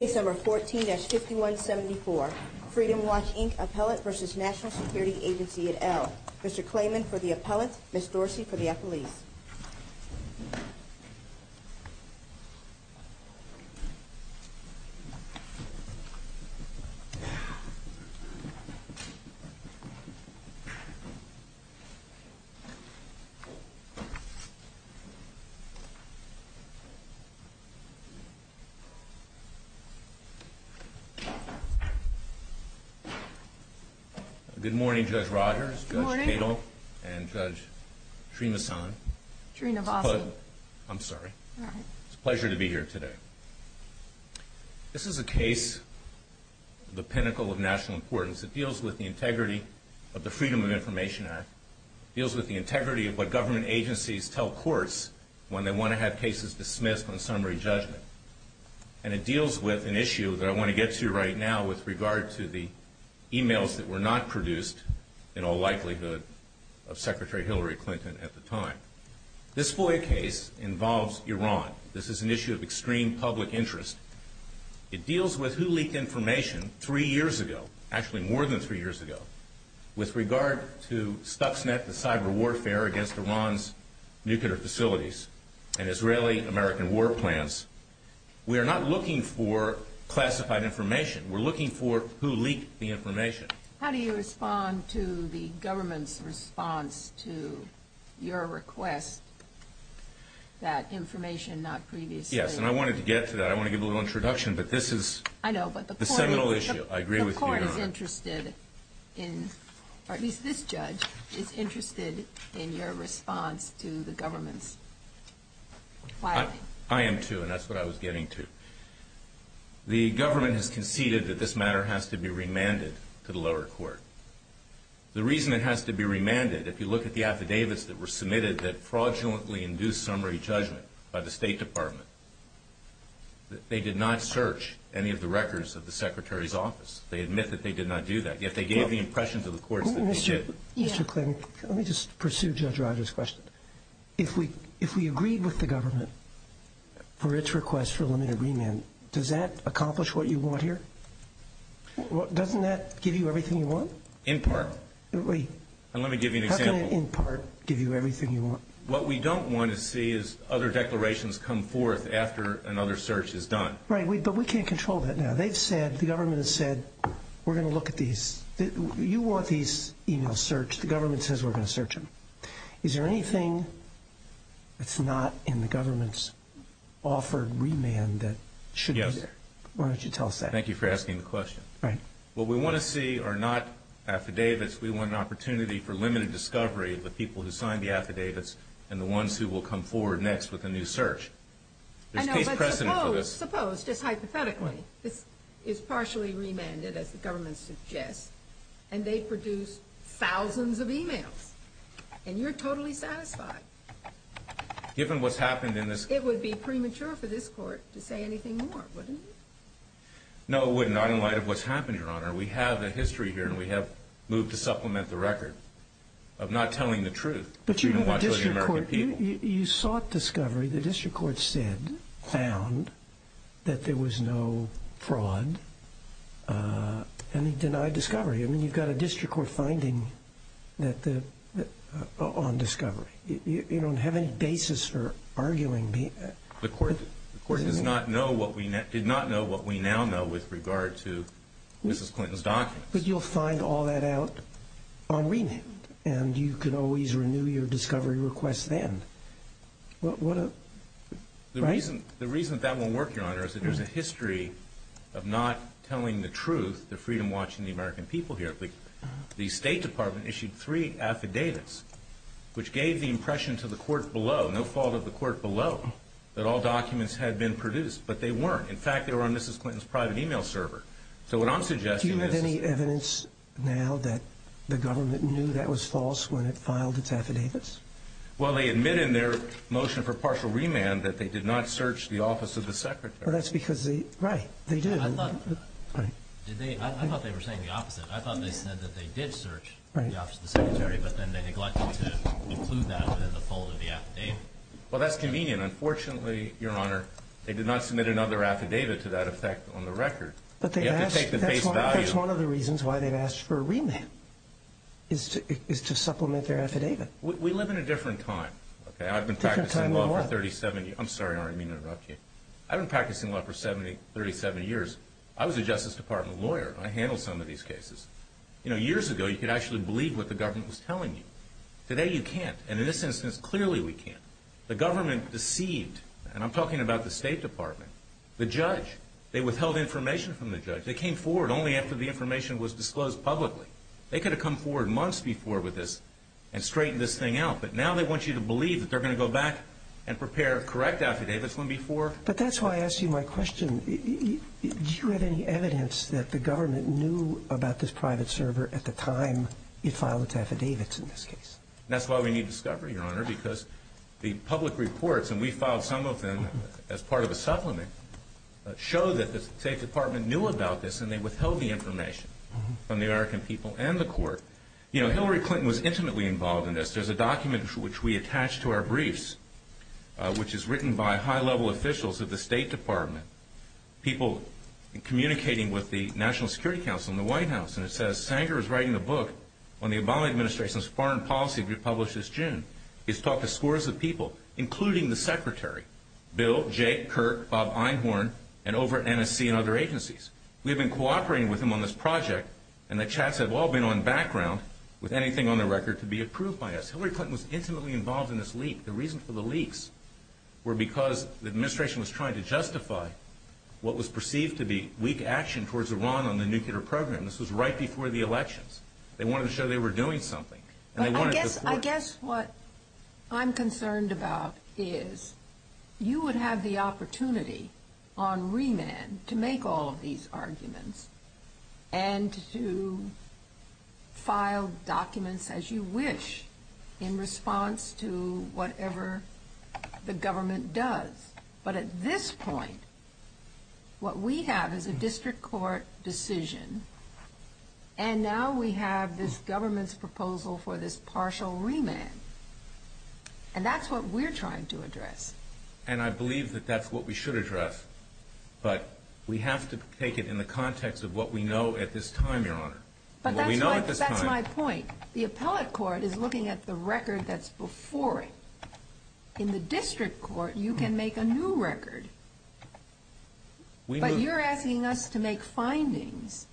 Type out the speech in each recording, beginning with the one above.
Case Number 14-5174, Freedom Watch, Inc. Appellate v. National Security Agency at Elk. Mr. Klayman for the Appellate, Ms. Dorsey for the Appellees. Good morning, Judge Rogers, Judge Cato, and Judge Srinivasan. It's a pleasure to be here today. This is a case of the pinnacle of national importance. It deals with the integrity of the Freedom of Information Act. It deals with the integrity of what government agencies tell courts when they want to have cases dismissed on summary judgment. And it deals with an issue that I want to get to right now with regard to the emails that were not produced in all likelihood of Secretary Hillary Clinton at the time. This FOIA case involves Iran. This is an issue of extreme public interest. It deals with who leaked information three years ago, actually more than three years ago, with regard to Stuxnet, the cyber warfare against Iran's nuclear facilities, and Israeli-American war plans. We are not looking for classified information. We're looking for who leaked the information. How do you respond to the government's response to your request that information not previously? Yes, and I wanted to get to that. I want to give a little introduction, but this is the seminal issue. I agree with your response to the government's. I am, too, and that's what I was getting to. The government has conceded that this matter has to be remanded to the lower court. The reason it has to be remanded, if you look at the affidavits that were submitted that fraudulently induced summary judgment by the State Department, they did not search any of the records of the Secretary's office. They admit that they did not do that, yet they gave the impression to the courts that they did. Mr. Klink, let me just pursue Judge Rogers' question. If we agreed with the government for its request for limited remand, does that accomplish what you want here? Doesn't that give you everything you want? In part. Let me give you an example. How can an in part give you everything you want? What we don't want to see is other declarations come forth after another search is done. Right, but we can't control that now. They've said, the government has said, we're going to look at these. You want these e-mails searched. The government says we're going to search them. Is there anything that's not in the government's offered remand that should be there? Yes. Why don't you tell us that? Thank you for asking the question. Right. What we want to see are not affidavits. We want an opportunity for limited discovery of the people who signed the affidavits and the ones who will come forward next with a new search. I know, but suppose, just hypothetically, this is partially remanded, as the government suggests, and they produce thousands of e-mails, and you're totally satisfied. Given what's happened in this... It would be premature for this court to say anything more, wouldn't it? No, it would not, in light of what's happened, Your Honor. We have a history here, and we have moved to supplement the record of not telling the truth. But you have a district court. You sought discovery. The district court said, found, that there was no fraud, and it denied discovery. I mean, you've got a district court finding on discovery. You don't have any basis for arguing... The court did not know what we now know with regard to Mrs. Clinton's documents. But you'll find all that out on remand, and you can always renew your discovery request then. The reason that won't work, Your Honor, is that there's a history of not telling the truth, the freedom watching the American people here. The State Department issued three affidavits, which gave the impression to the court below, no fault of the court below, that all documents had been produced, but they weren't. In fact, they were on Mrs. Clinton's private e-mail server. So what I'm suggesting is... Do you have any evidence now that the government knew that was false when it filed its affidavits? Well, they admit in their motion for partial remand that they did not search the office of the secretary. Well, that's because they... Right. They did. I thought they were saying the opposite. I thought they said that they did search the office of the secretary, but then they neglected to include that within the fold of the affidavit. Well, that's convenient. Unfortunately, Your Honor, they did not submit another affidavit to that effect on the record. You have to take the face value... That's one of the reasons why they've asked for a remand, is to supplement their affidavit. We live in a different time, okay? I've been practicing law for 37 years. I'm sorry, I didn't mean to interrupt you. I've been practicing law for 37 years. I was a Justice Department lawyer. I handled some of these cases. You know, years ago, you could actually believe what the government was telling you. Today, you can't, and in this instance, clearly we can't. The government deceived, and I'm talking about the State Department, the judge. They withheld information from the judge. They came forward only after the information was disclosed publicly. They could have come forward months before with this and straightened this thing out, but now they want you to believe that they're going to go back and prepare correct affidavits from before. But that's why I ask you my question. Do you have any evidence that the government knew about this private server at the time it filed its affidavits in this case? That's why we need discovery, Your Honor, because the public reports, and we filed some of them as part of a supplement, show that the State Department knew about this, and they withheld the information from the American people and the court. You know, Hillary Clinton was intimately involved in this. There's a document which we attached to our briefs, which is written by high-level officials of the State Department, people communicating with the National Security Council and the White House, and it says, Sanger is writing a book on the Obama Administration's foreign policy we published this June. He's talked to scores of people, including the Secretary, Bill, Jake, Kirk, Bob Einhorn, and over at NSC and other agencies. We have been cooperating with him on this project, and the chats have all been on background with anything on the record to be approved by us. Hillary Clinton was intimately involved in this leak. The reason for the leaks were because the administration was trying to justify what was perceived to be weak action towards Iran on the nuclear program. This was right before the elections. They wanted to show they were doing something, and they wanted to... But I guess what I'm concerned about is you would have the opportunity on remand to make all of these arguments and to file documents as you wish in response to whatever the government does. But at this point, what we have is a district court decision, and now we have this government's proposal for this partial remand. And that's what we're trying to address. And I believe that that's what we should address, but we have to take it in the context of what we know at this time, Your Honor. But that's my point. The appellate court is looking at the record that's before it. In the district court, you can make a new record. But you're asking us to make findings.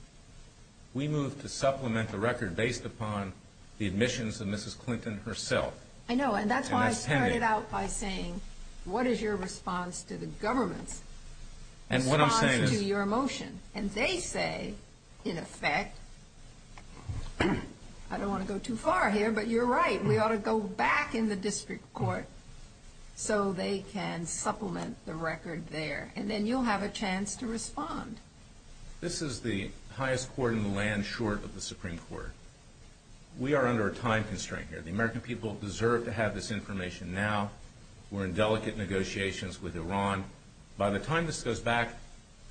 We move to supplement the record based upon the admissions of Mrs. Clinton herself. I know, and that's why I started out by saying, what is your response to the government's response to your motion? And they say, in effect, I don't want to go too far here, but you're right. We ought to go back in the district court so they can supplement the record there. And then you'll have a chance to respond. This is the highest court in the land, short of the Supreme Court. We are under a time constraint here. The American people deserve to have this information now. We're in delicate negotiations with Iran. By the time this goes back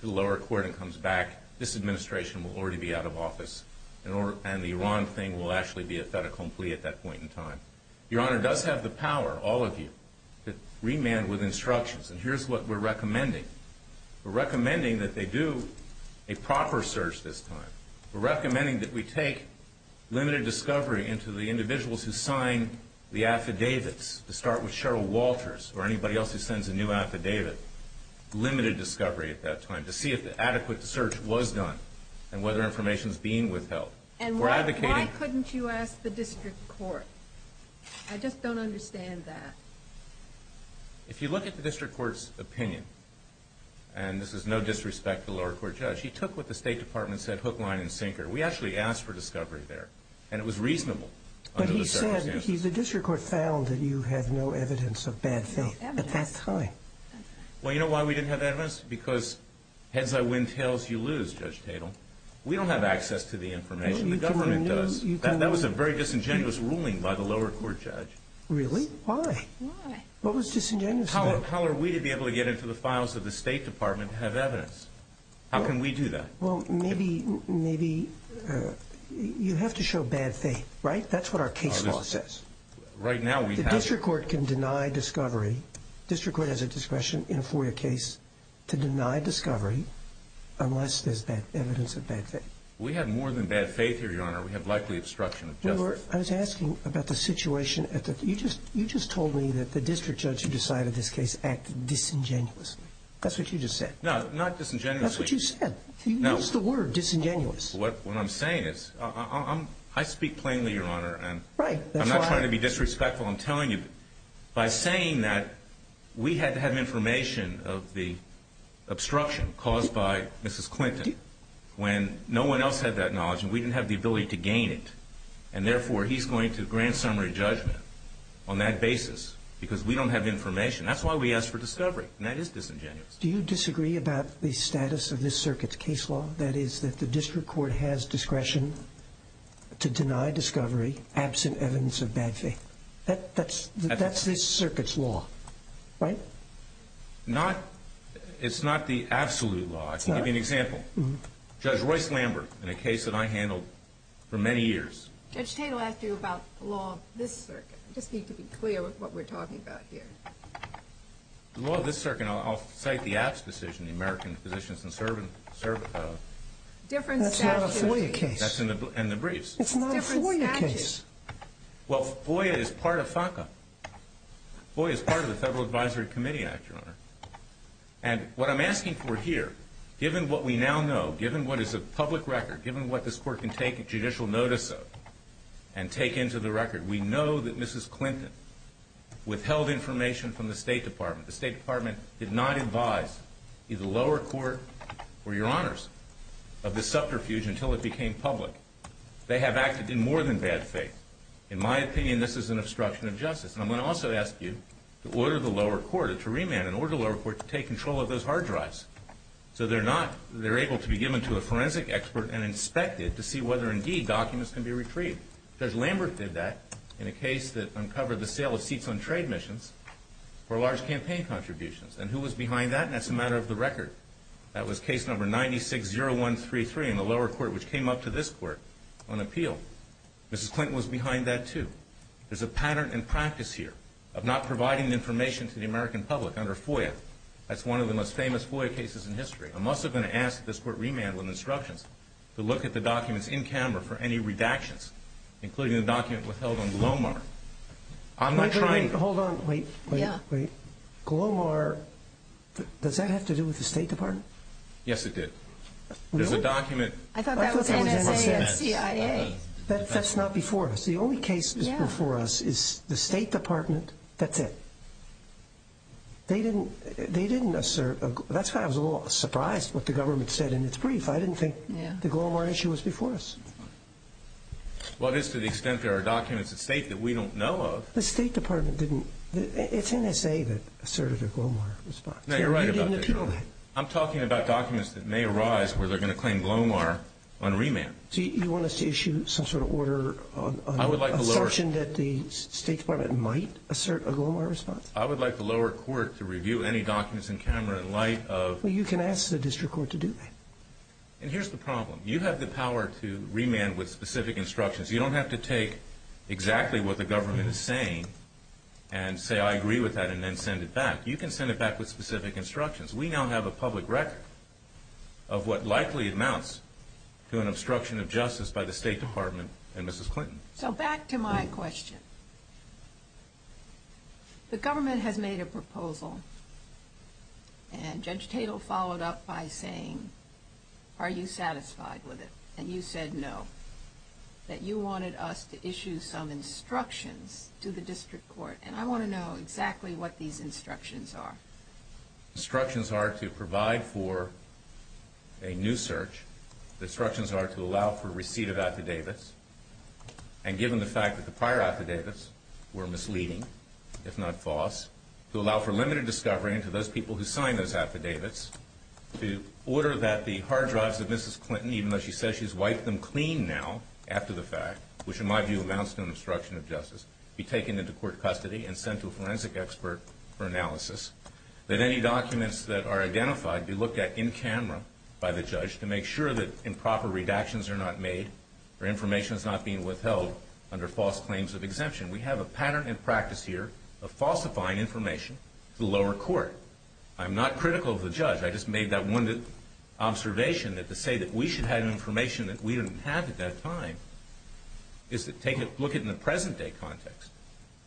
to the lower court and comes back, this administration will already be out of office, and the Iran thing will actually be a fait accompli in time. Your Honor, it does have the power, all of you, to remand with instructions. And here's what we're recommending. We're recommending that they do a proper search this time. We're recommending that we take limited discovery into the individuals who sign the affidavits, to start with Cheryl Walters, or anybody else who sends a new affidavit. Limited discovery at that time, to see if the adequate search was done, and whether information is being withheld. And why couldn't you ask the district court? I just don't understand that. If you look at the district court's opinion, and this is no disrespect to the lower court judge, he took what the State Department said hook, line, and sinker. We actually asked for discovery there. And it was reasonable under the circumstances. But he said, the district court found that you had no evidence of bad faith at that time. Well, you know why we didn't have evidence? Because heads I win, tails you lose, Judge The government does. That was a very disingenuous ruling by the lower court judge. Really? Why? Why? What was disingenuous about it? How are we to be able to get into the files of the State Department and have evidence? How can we do that? Well, maybe you have to show bad faith, right? That's what our case law says. Right now, we have The district court can deny discovery. The district court has a discretion in a FOIA case to deny discovery, unless there's evidence of bad faith. We have more than bad faith here, Your Honor. We have likely obstruction of justice. I was asking about the situation. You just told me that the district judge who decided this case acted disingenuously. That's what you just said. No, not disingenuously. That's what you said. You used the word disingenuous. What I'm saying is, I speak plainly, Your Honor. Right. I'm not trying to be disrespectful. I'm telling you, by saying that, we had to have information of the obstruction caused by Mrs. Clinton, when no one else had that knowledge, and we didn't have the ability to gain it. And therefore, he's going to grant summary judgment on that basis because we don't have information. That's why we asked for discovery, and that is disingenuous. Do you disagree about the status of this circuit's case law? That is, that the district court has discretion to deny discovery, absent evidence of bad faith. That's this circuit's law, right? It's not the absolute law. I can give you an example. Judge Royce Lambert, in a case that I handled for many years. Judge Tatel asked you about the law of this circuit. I just need to be clear with what we're talking about here. The law of this circuit, I'll cite the Apps decision, the American Physicians and Servants Act. That's not a FOIA case. That's in the briefs. It's not a FOIA case. Well, FOIA is part of FACA. FOIA is part of the Federal Advisory Committee Act, Your Honor. And what I'm asking for here, given what we now know, given what is a public record, given what this Court can take judicial notice of and take into the record, we know that Mrs. Clinton withheld information from the State Department. The State Department did not advise either the lower court or Your Honors of this subterfuge until it became public. They have acted in more than bad faith. In my opinion, this is an obstruction of justice. And I'm going to also ask you to order the lower court to remand and order the lower court to take control of those hard drives so they're able to be given to a forensic expert and inspected to see whether, indeed, documents can be retrieved. Judge Lambert did that in a case that uncovered the sale of seats on trade missions for large campaign contributions. And who was behind that? And that's a matter of the record. That was case number 960133 in the lower court, which came up to this Court on appeal. Mrs. Clinton was behind that, too. There's a pattern and practice here of not providing information to the American public under FOIA. That's one of the most famous FOIA cases in history. I'm also going to ask that this Court remand with instructions to look at the documents in camera for any redactions, including the document withheld on Glomar. I'm not trying to – Wait, wait, wait. Hold on. Wait, wait, wait. Glomar – does that have to do with the State Department? Yes, it did. Really? There's a document – I thought that was NSA and CIA. That's not before us. The only case that's before us is the State Department. That's it. They didn't assert – that's why I was a little surprised what the government said in its brief. I didn't think the Glomar issue was before us. Well, it is to the extent there are documents at State that we don't know of. The State Department didn't – it's NSA that asserted a Glomar response. No, you're right about that, Your Honor. You didn't appeal that. I'm talking about documents that may arise where they're going to claim Glomar on remand. So you want us to issue some sort of order, an assumption that the State Department might assert a Glomar response? I would like the lower court to review any documents in camera in light of – Well, you can ask the district court to do that. And here's the problem. You have the power to remand with specific instructions. You don't have to take exactly what the government is saying and say, I agree with that, and then send it back. You can send it back with specific instructions. We now have a public record of what likely amounts to an obstruction of justice by the State Department and Mrs. Clinton. So back to my question. The government has made a proposal, and Judge Tatel followed up by saying, are you satisfied with it? And you said no, that you wanted us to issue some instructions to the district court. And I want to know exactly what these instructions are. The instructions are to provide for a new search. The instructions are to allow for receipt of affidavits. And given the fact that the prior affidavits were misleading, if not false, to allow for limited discovery and to those people who signed those affidavits, to order that the hard drives of Mrs. Clinton, even though she says she's wiped them clean now after the fact, which in my view amounts to an obstruction of justice, be taken into court custody and sent to a forensic expert for analysis, that any documents that are identified be looked at in camera by the judge to make sure that improper redactions are not made or information is not being withheld under false claims of exemption. We have a pattern in practice here of falsifying information to the lower court. I'm not critical of the judge. I just made that one observation that to say that we should have information that we didn't have at that time is to look at it in the present-day context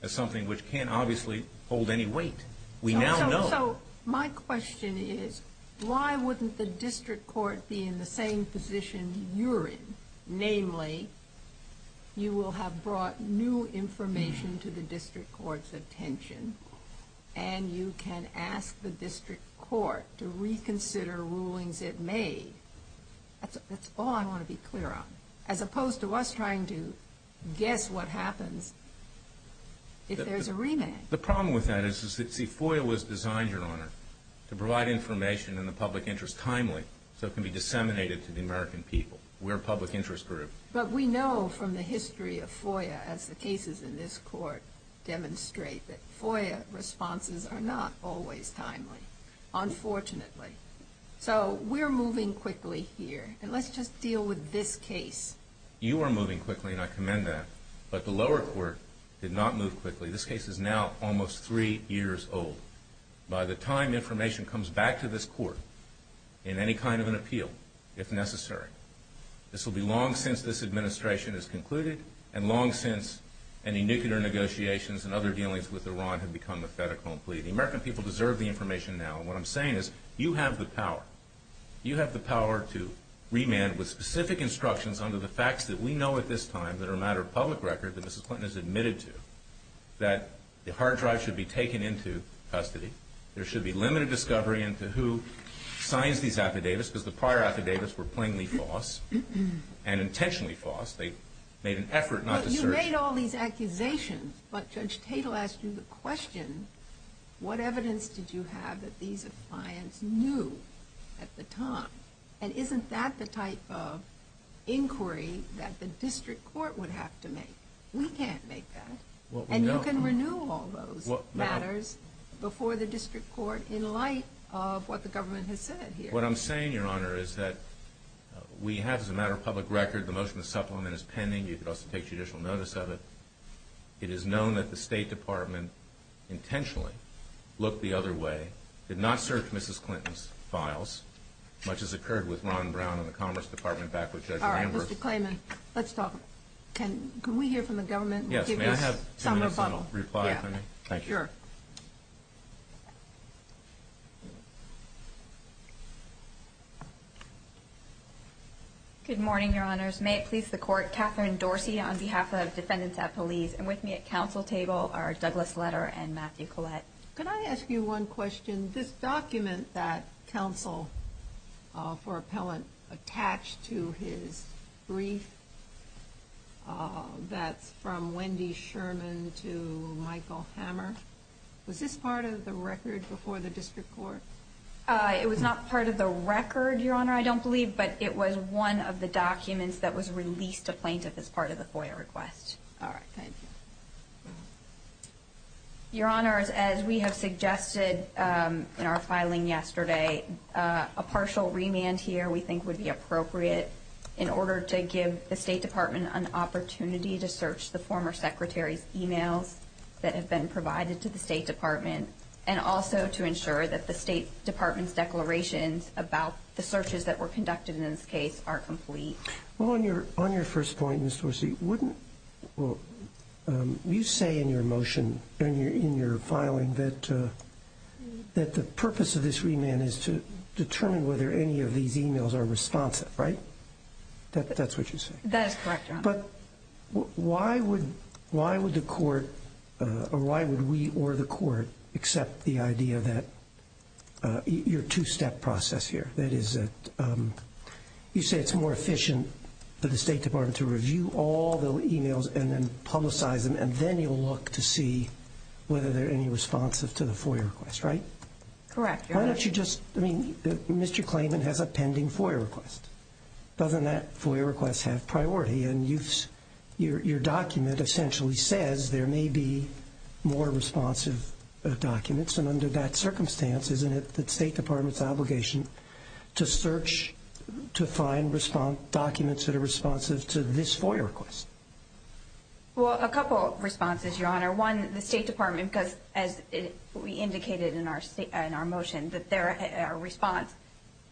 as something which can't obviously hold any weight. We now know. So my question is why wouldn't the district court be in the same position you're in? Namely, you will have brought new information to the district court's attention and you can ask the district court to reconsider rulings it made. That's all I want to be clear on. As opposed to us trying to guess what happens if there's a remand. The problem with that is FOIA was designed, Your Honor, to provide information in the public interest timely so it can be disseminated to the American people. We're a public interest group. But we know from the history of FOIA, as the cases in this court demonstrate, that FOIA responses are not always timely, unfortunately. So we're moving quickly here. And let's just deal with this case. You are moving quickly, and I commend that. But the lower court did not move quickly. This case is now almost three years old. By the time information comes back to this court in any kind of an appeal, if necessary, this will be long since this administration is concluded and long since any nuclear negotiations and other dealings with Iran have become a fait accompli. The American people deserve the information now. And what I'm saying is you have the power. You have the power to remand with specific instructions under the facts that we know at this time that are a matter of public record that Mrs. Clinton has admitted to, that the hard drive should be taken into custody. There should be limited discovery into who signs these affidavits because the prior affidavits were plainly false and intentionally false. They made an effort not to search. Well, you made all these accusations, but Judge Tatel asked you the question, what evidence did you have that these clients knew at the time? And isn't that the type of inquiry that the district court would have to make? We can't make that. And you can renew all those matters before the district court in light of what the government has said here. What I'm saying, Your Honor, is that we have, as a matter of public record, the motion of supplement is pending. You could also take judicial notice of it. It is known that the State Department intentionally looked the other way, did not search Mrs. Clinton's files, much as occurred with Ron Brown and the Commerce Department back with Judge Landworth. All right, Mr. Clayman, let's talk. Can we hear from the government? Yes, may I have two minutes on a reply, if I may? Thank you. Sure. Good morning, Your Honors. May it please the Court, Catherine Dorsey on behalf of Defendants at Police, and with me at counsel table are Douglas Letter and Matthew Collette. Can I ask you one question? This document that counsel for appellant attached to his brief, that's from Wendy Sherman to Michael Hammer, was this part of the record before the district court? It was not part of the record, Your Honor, I don't believe, but it was one of the documents that was released to plaintiff as part of the FOIA request. All right, thank you. Your Honors, as we have suggested in our filing yesterday, a partial remand here we think would be appropriate in order to give the State Department an opportunity to search the former secretary's emails that have been provided to the State Department, and also to ensure that the State Department's declarations about the searches that were conducted in this case are complete. Well, on your first point, Ms. Dorsey, you say in your motion, in your filing, that the purpose of this remand is to determine whether any of these emails are responsive, right? That's what you say. That is correct, Your Honor. But why would the court, or why would we or the court, accept the idea that your two-step process here, that is that you say it's more efficient for the State Department to review all the emails and then publicize them, and then you'll look to see whether they're any responsive to the FOIA request, right? Correct, Your Honor. Why don't you just, I mean, Mr. Klayman has a pending FOIA request. Doesn't that FOIA request have priority, and your document essentially says there may be more responsive documents, and under that circumstance, isn't it the State Department's obligation to search to find documents that are responsive to this FOIA request? Well, a couple of responses, Your Honor. One, the State Department, because as we indicated in our motion, that there are response,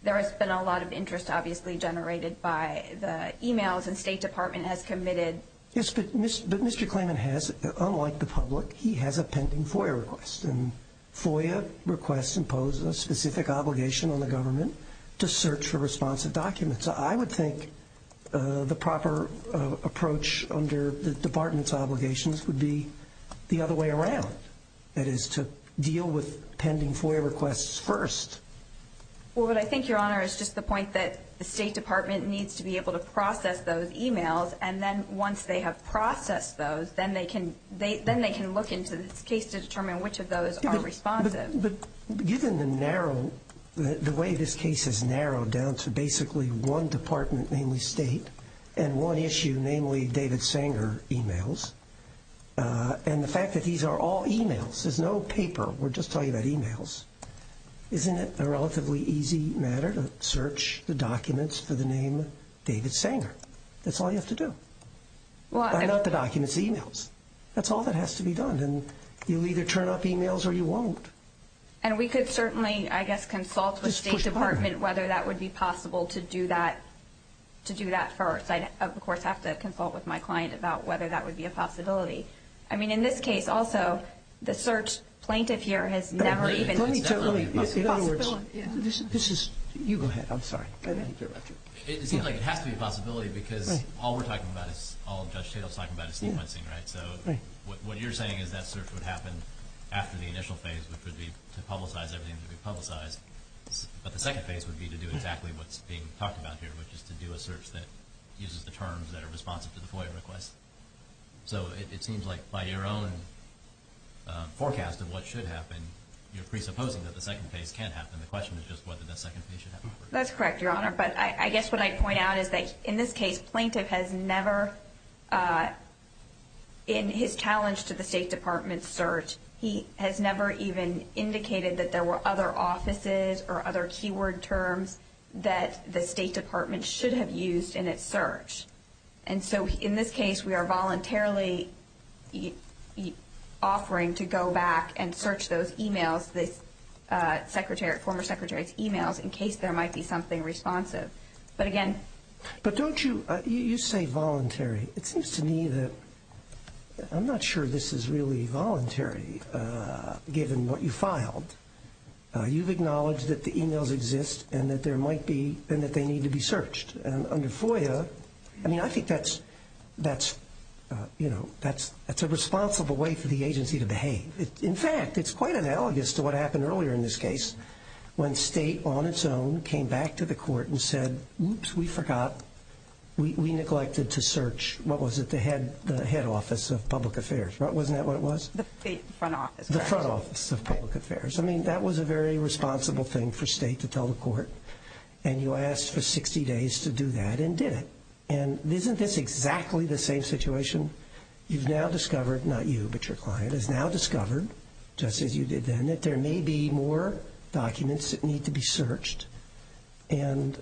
there has been a lot of interest, obviously, generated by the emails the State Department has committed. Yes, but Mr. Klayman has, unlike the public, he has a pending FOIA request, and FOIA requests impose a specific obligation on the government to search for responsive documents. I would think the proper approach under the Department's obligations would be the other way around, that is to deal with pending FOIA requests first. Well, but I think, Your Honor, it's just the point that the State Department needs to be able to process those emails, and then once they have processed those, then they can look into this case to determine which of those are responsive. But given the narrow, the way this case is narrowed down to basically one department, namely State, and one issue, namely David Sanger emails, and the fact that these are all emails, there's no paper, we're just talking about emails, isn't it a relatively easy matter to search the documents for the name David Sanger? That's all you have to do. They're not the documents, the emails. That's all that has to be done, and you'll either turn up emails or you won't. And we could certainly, I guess, consult with the State Department whether that would be possible to do that first. I'd, of course, have to consult with my client about whether that would be a possibility. I mean, in this case, also, the search plaintiff here has never even ---- Let me tell you, in other words, this is, you go ahead, I'm sorry. It seems like it has to be a possibility because all we're talking about is, all Judge Tatum is talking about is sequencing, right? So what you're saying is that search would happen after the initial phase, which would be to publicize everything that would be publicized. But the second phase would be to do exactly what's being talked about here, which is to do a search that uses the terms that are responsive to the FOIA request. So it seems like, by your own forecast of what should happen, you're presupposing that the second phase can happen. The question is just whether that second phase should happen first. That's correct, Your Honor. But I guess what I'd point out is that, in this case, plaintiff has never, in his challenge to the State Department's search, he has never even indicated that there were other offices or other keyword terms that the State Department should have used in its search. And so, in this case, we are voluntarily offering to go back and search those e-mails, the former Secretary's e-mails, in case there might be something responsive. But, again ---- But don't you, you say voluntary. It seems to me that I'm not sure this is really voluntary, given what you filed. You've acknowledged that the e-mails exist and that there might be, and that they need to be searched. And under FOIA, I mean, I think that's, you know, that's a responsible way for the agency to behave. In fact, it's quite analogous to what happened earlier in this case, when State, on its own, came back to the court and said, oops, we forgot, we neglected to search, what was it, the head office of public affairs. Wasn't that what it was? The front office. The front office of public affairs. I mean, that was a very responsible thing for State to tell the court. And you asked for 60 days to do that and did it. And isn't this exactly the same situation? You've now discovered, not you, but your client, has now discovered, just as you did then, that there may be more documents that need to be searched. And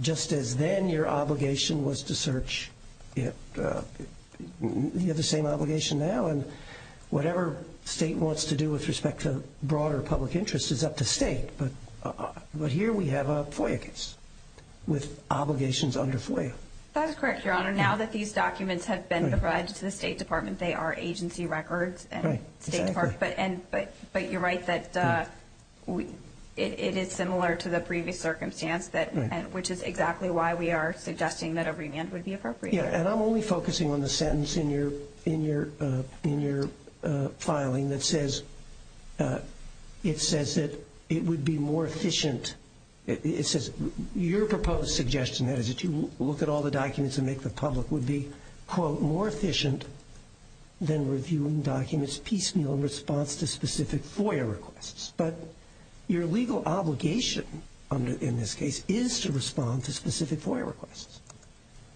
just as then your obligation was to search, you have the same obligation now. And whatever State wants to do with respect to broader public interest is up to State. But here we have a FOIA case with obligations under FOIA. That is correct, Your Honor. Now that these documents have been provided to the State Department, they are agency records. But you're right that it is similar to the previous circumstance, which is exactly why we are suggesting that a remand would be appropriate. And I'm only focusing on the sentence in your filing that says it would be more efficient. It says your proposed suggestion is that you look at all the documents and make the public would be, quote, more efficient than reviewing documents piecemeal in response to specific FOIA requests. But your legal obligation in this case is to respond to specific FOIA requests.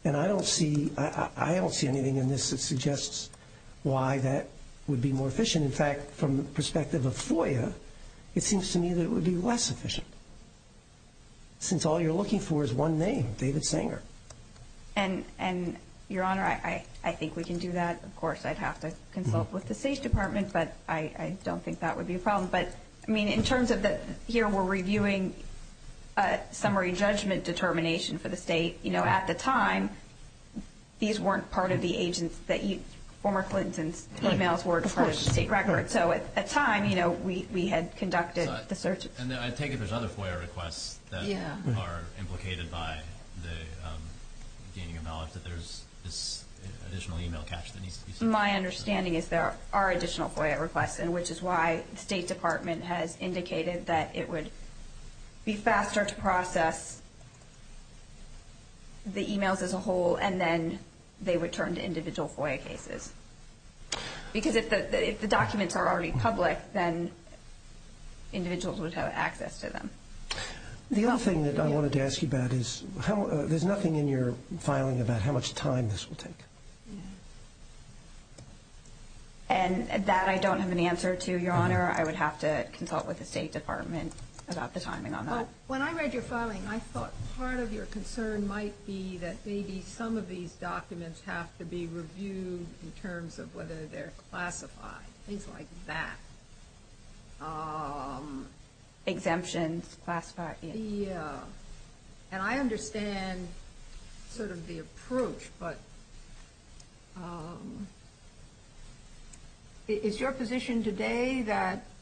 And I don't see anything in this that suggests why that would be more efficient. In fact, from the perspective of FOIA, it seems to me that it would be less efficient since all you're looking for is one name, David Sanger. And, Your Honor, I think we can do that. Of course, I'd have to consult with the State Department, but I don't think that would be a problem. But, I mean, in terms of that here we're reviewing summary judgment determination for the State, you know, at the time, these weren't part of the agents that you, former Clintons, emails weren't part of the state record. So at the time, you know, we had conducted the search. And I take it there's other FOIA requests that are implicated by the gaining of knowledge that there's this additional email catch that needs to be sent. My understanding is there are additional FOIA requests, which is why the State Department has indicated that it would be faster to process the emails as a whole and then they would turn to individual FOIA cases. Because if the documents are already public, then individuals would have access to them. The other thing that I wanted to ask you about is there's nothing in your filing about how much time this will take. And that I don't have an answer to, Your Honor. I would have to consult with the State Department about the timing on that. When I read your filing, I thought part of your concern might be that maybe some of these documents have to be reviewed in terms of whether they're classified, things like that. Exemptions, classified. And I understand sort of the approach, but is your position today that –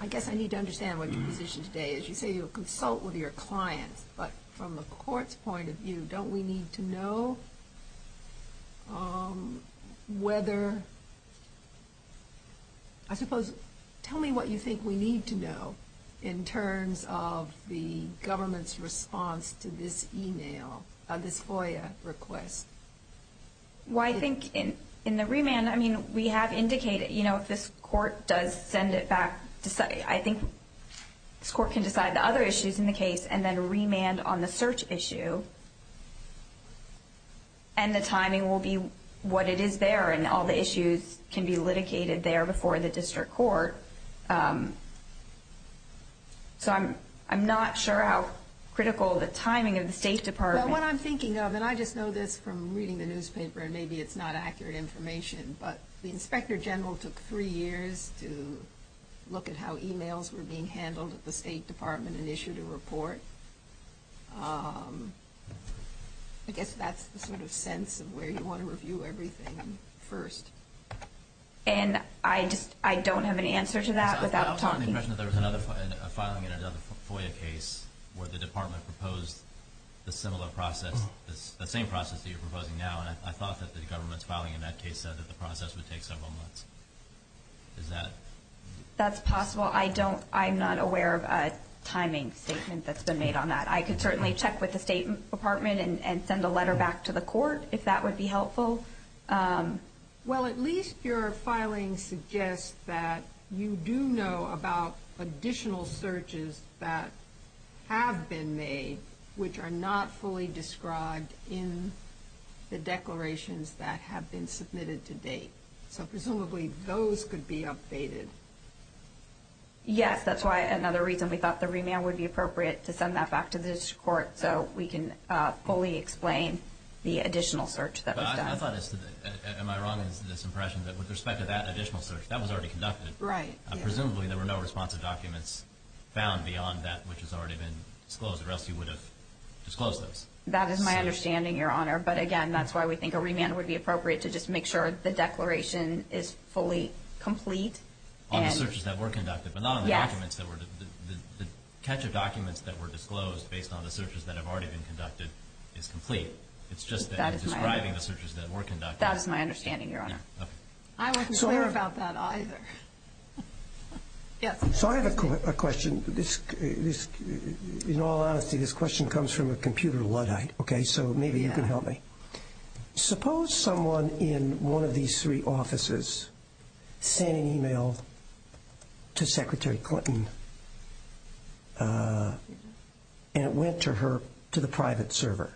I guess I need to understand what your position today is. You say you'll consult with your clients, but from the court's point of view, don't we need to know whether – I suppose, tell me what you think we need to know in terms of the government's response to this email, this FOIA request. Well, I think in the remand, I mean, we have indicated, you know, if this court does send it back, I think this court can decide the other issues in the case and then remand on the search issue. And the timing will be what it is there, and all the issues can be litigated there before the district court. So I'm not sure how critical the timing of the State Department – Well, what I'm thinking of, and I just know this from reading the newspaper, and maybe it's not accurate information, but the Inspector General took three years to look at how emails were being handled at the State Department and issued a report. I guess that's the sort of sense of where you want to review everything first. And I just – I don't have an answer to that without talking. I also have the impression that there was another – a filing in another FOIA case where the Department proposed a similar process – the same process that you're proposing now, and I thought that the government's filing in that case said that the process would take several months. Is that – That's possible. I don't – I'm not aware of a timing statement that's been made on that. I could certainly check with the State Department and send a letter back to the court if that would be helpful. Well, at least your filing suggests that you do know about additional searches that have been made which are not fully described in the declarations that have been submitted to date. So presumably those could be updated. Yes, that's why – another reason we thought the remand would be appropriate to send that back to this court so we can fully explain the additional search that was done. But I thought as to the – am I wrong in this impression that with respect to that additional search, that was already conducted? Right. Presumably there were no responsive documents found beyond that which has already been disclosed or else you would have disclosed those. That is my understanding, Your Honor. But again, that's why we think a remand would be appropriate to just make sure the declaration is fully complete. On the searches that were conducted. Yes. But not on the documents that were – the catch of documents that were disclosed based on the searches that have already been conducted is complete. It's just that you're describing the searches that were conducted. That is my understanding, Your Honor. Okay. I wasn't clear about that either. Yes. So I have a question. This – in all honesty, this question comes from a computer Luddite, okay, so maybe you can help me. Suppose someone in one of these three offices sent an email to Secretary Clinton and it went to her – to the private server.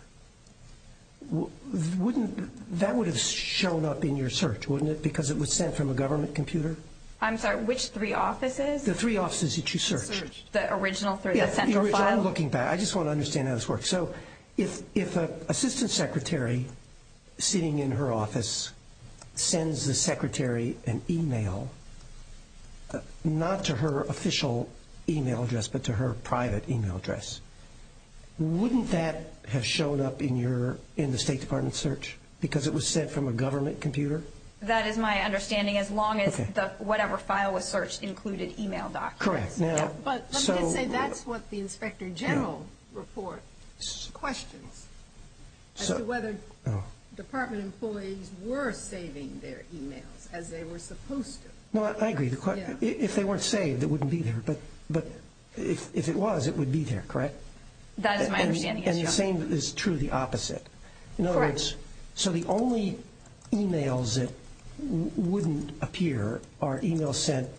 Wouldn't – that would have shown up in your search, wouldn't it, because it was sent from a government computer? I'm sorry, which three offices? The three offices that you searched. Searched. The original through the central file? Yes, the original. I'm looking back. I just want to understand how this works. So if an assistant secretary sitting in her office sends the secretary an email, not to her official email address but to her private email address, wouldn't that have shown up in your – in the State Department search because it was sent from a government computer? That is my understanding, as long as the – whatever file was searched included email documents. Correct. Now, so – But let me just say that's what the Inspector General report questions, as to whether department employees were saving their emails as they were supposed to. No, I agree. If they weren't saved, it wouldn't be there. But if it was, it would be there, correct? That is my understanding, yes, Your Honor. And the same is true of the opposite. Correct. So the only emails that wouldn't appear are emails sent,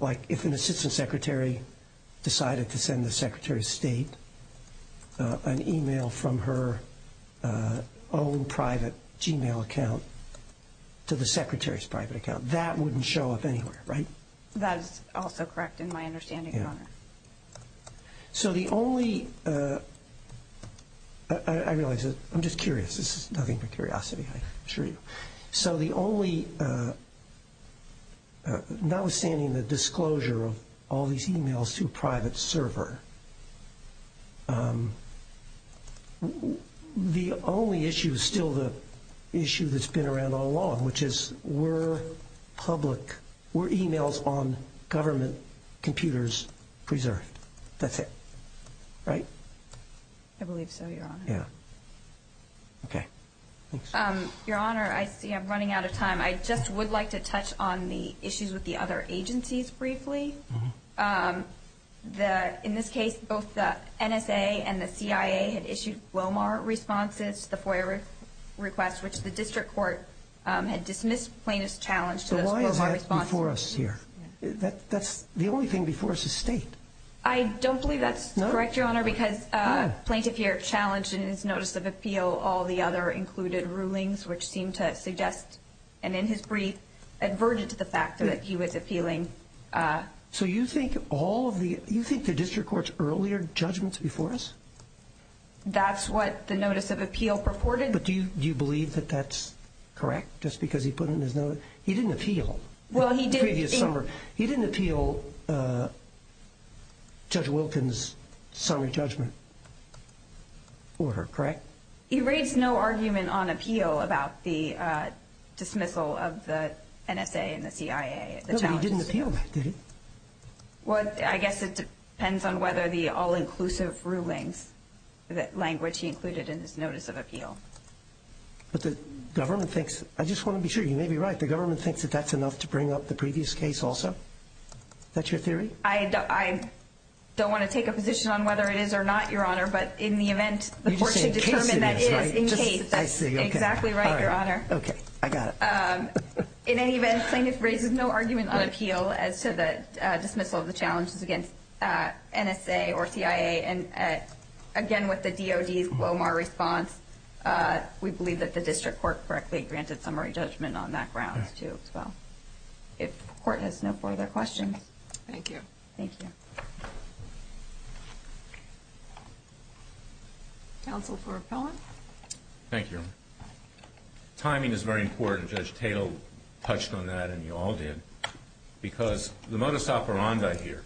like if an assistant secretary decided to send the secretary of state an email from her own private Gmail account to the secretary's private account. That wouldn't show up anywhere, right? That is also correct in my understanding, Your Honor. So the only – I realize that – I'm just curious. This is nothing but curiosity, I assure you. So the only – notwithstanding the disclosure of all these emails to a private server, the only issue is still the issue that's been around all along, which is were public – were emails on government computers preserved? That's it. Right? I believe so, Your Honor. Yeah. Okay. Thanks. Your Honor, I see I'm running out of time. I just would like to touch on the issues with the other agencies briefly. In this case, both the NSA and the CIA had issued Glomar responses to the FOIA request, which the district court had dismissed plaintiff's challenge to those Glomar responses. So why is that before us here? That's – the only thing before us is state. I don't believe that's correct, Your Honor, because plaintiff here challenged in his notice of appeal all the other included rulings, which seemed to suggest, and in his brief, adverted to the fact that he was appealing. So you think all of the – you think the district court's earlier judgments before us? That's what the notice of appeal purported. But do you believe that that's correct, just because he put it in his notice? He didn't appeal. Well, he did. The previous summer. He didn't appeal Judge Wilkins' summer judgment order, correct? He raised no argument on appeal about the dismissal of the NSA and the CIA, the challenges. No, but he didn't appeal that, did he? Well, I guess it depends on whether the all-inclusive rulings, that language he included in his notice of appeal. But the government thinks – I just want to be sure you may be right. The government thinks that that's enough to bring up the previous case also? Is that your theory? I don't want to take a position on whether it is or not, Your Honor, but in the event the court should determine – I see this, right? I see, okay. Exactly right, Your Honor. Okay, I got it. In any event, plaintiff raises no argument on appeal as to the dismissal of the challenges against NSA or CIA. And again, with the DOD's LOMAR response, we believe that the district court correctly granted summary judgment on that grounds too as well. If the court has no further questions. Thank you. Thank you. Counsel for appellant. Thank you, Your Honor. Timing is very important. Judge Tatel touched on that and you all did. Because the modus operandi here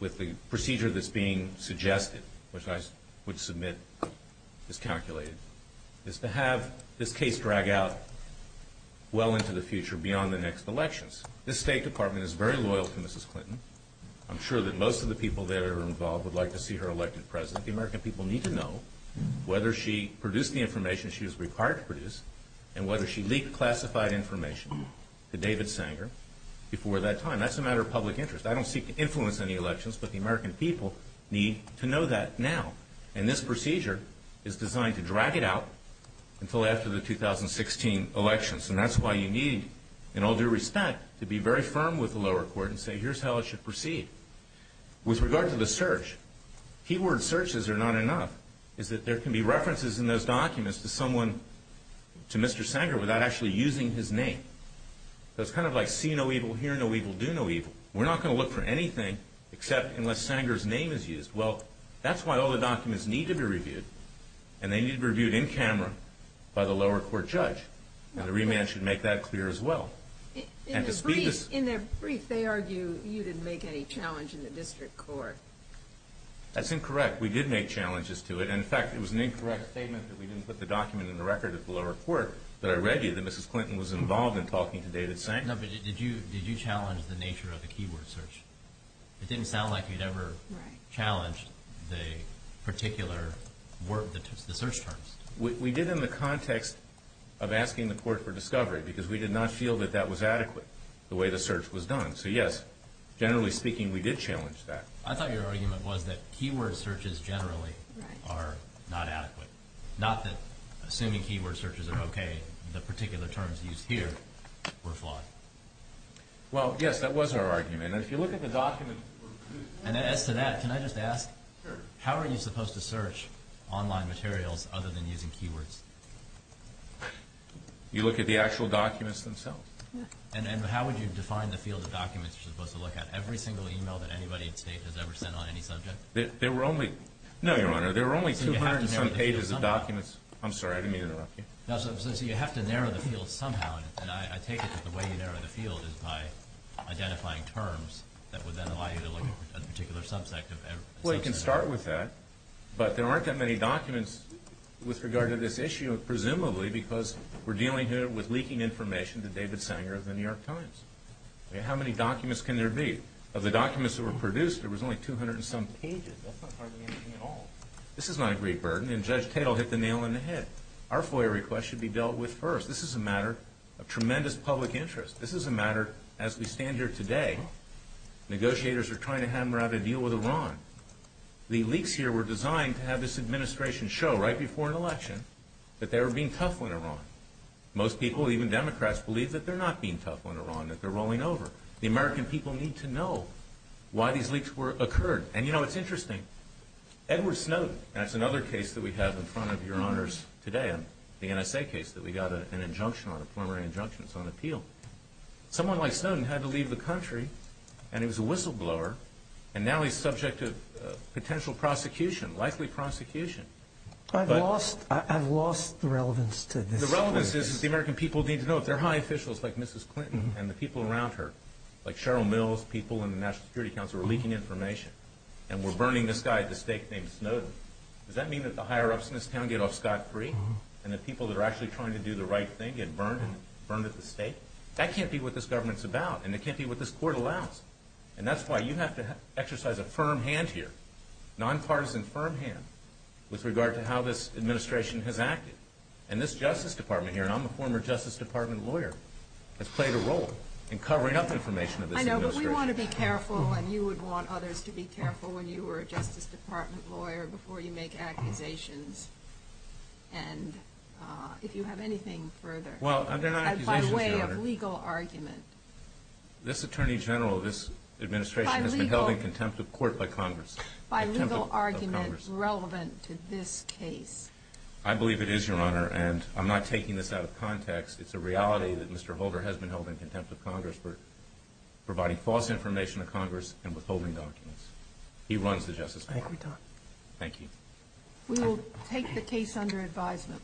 with the procedure that's being suggested, which I would submit is calculated, is to have this case drag out well into the future beyond the next elections. This State Department is very loyal to Mrs. Clinton. I'm sure that most of the people that are involved would like to see her elected president. The American people need to know whether she produced the information she was required to produce and whether she leaked classified information to David Sanger before that time. That's a matter of public interest. I don't seek to influence any elections, but the American people need to know that now. And this procedure is designed to drag it out until after the 2016 elections. And that's why you need, in all due respect, to be very firm with the lower court and say, here's how it should proceed. With regard to the search, keyword searches are not enough. It's that there can be references in those documents to someone, to Mr. Sanger, without actually using his name. So it's kind of like see no evil, hear no evil, do no evil. We're not going to look for anything except unless Sanger's name is used. Well, that's why all the documents need to be reviewed. And they need to be reviewed in camera by the lower court judge. And the remand should make that clear as well. In their brief, they argue you didn't make any challenge in the district court. That's incorrect. We did make challenges to it. In fact, it was an incorrect statement that we didn't put the document in the record at the lower court, but I read you that Mrs. Clinton was involved in talking to David Sanger. No, but did you challenge the nature of the keyword search? It didn't sound like you'd ever challenged the particular search terms. We did in the context of asking the court for discovery because we did not feel that that was adequate, the way the search was done. So, yes, generally speaking, we did challenge that. I thought your argument was that keyword searches generally are not adequate, not that assuming keyword searches are okay, the particular terms used here were flawed. Well, yes, that was our argument. And if you look at the documents that were produced. And as to that, can I just ask, how are you supposed to search online materials other than using keywords? You look at the actual documents themselves. And how would you define the field of documents you're supposed to look at? Every single email that anybody in the state has ever sent on any subject? There were only, no, Your Honor, there were only 200 and some pages of documents. I'm sorry, I didn't mean to interrupt you. So you have to narrow the field somehow, and I take it that the way you narrow the field is by identifying terms that would then allow you to look at a particular subject. Well, you can start with that. But there aren't that many documents with regard to this issue, presumably because we're dealing here with leaking information to David Sanger of the New York Times. How many documents can there be? Of the documents that were produced, there was only 200 and some pages. That's not hardly anything at all. This is not a great burden, and Judge Tatel hit the nail on the head. Our FOIA request should be dealt with first. This is a matter of tremendous public interest. This is a matter, as we stand here today, negotiators are trying to hammer out a deal with Iran. The leaks here were designed to have this administration show right before an election that they were being tough on Iran. Most people, even Democrats, believe that they're not being tough on Iran, that they're rolling over. The American people need to know why these leaks occurred. And, you know, it's interesting. Edward Snowden, and that's another case that we have in front of Your Honors today, the NSA case that we got an injunction on, a preliminary injunction. It's on appeal. Someone like Snowden had to leave the country, and he was a whistleblower, and now he's subject to potential prosecution, likely prosecution. I've lost the relevance to this. The relevance is that the American people need to know. If they're high officials like Mrs. Clinton and the people around her, like Cheryl Mills, people in the National Security Council, are leaking information and we're burning this guy at the stake named Snowden, does that mean that the higher-ups in this town get off scot-free? And the people that are actually trying to do the right thing get burned at the stake? That can't be what this government's about, and it can't be what this court allows. And that's why you have to exercise a firm hand here, nonpartisan firm hand, with regard to how this administration has acted. And this Justice Department here, and I'm a former Justice Department lawyer, has played a role in covering up information of this administration. I know, but we want to be careful, and you would want others to be careful when you were a Justice Department lawyer before you make accusations, and if you have anything further. Well, they're not accusations, Your Honor. By way of legal argument. This attorney general of this administration has been held in contempt of court by Congress. By legal argument relevant to this case. I believe it is, Your Honor, and I'm not taking this out of context. It's a reality that Mr. Holder has been held in contempt of Congress for providing false information to Congress and withholding documents. He runs the Justice Department. Thank you, Your Honor. Thank you. We will take the case under advisement.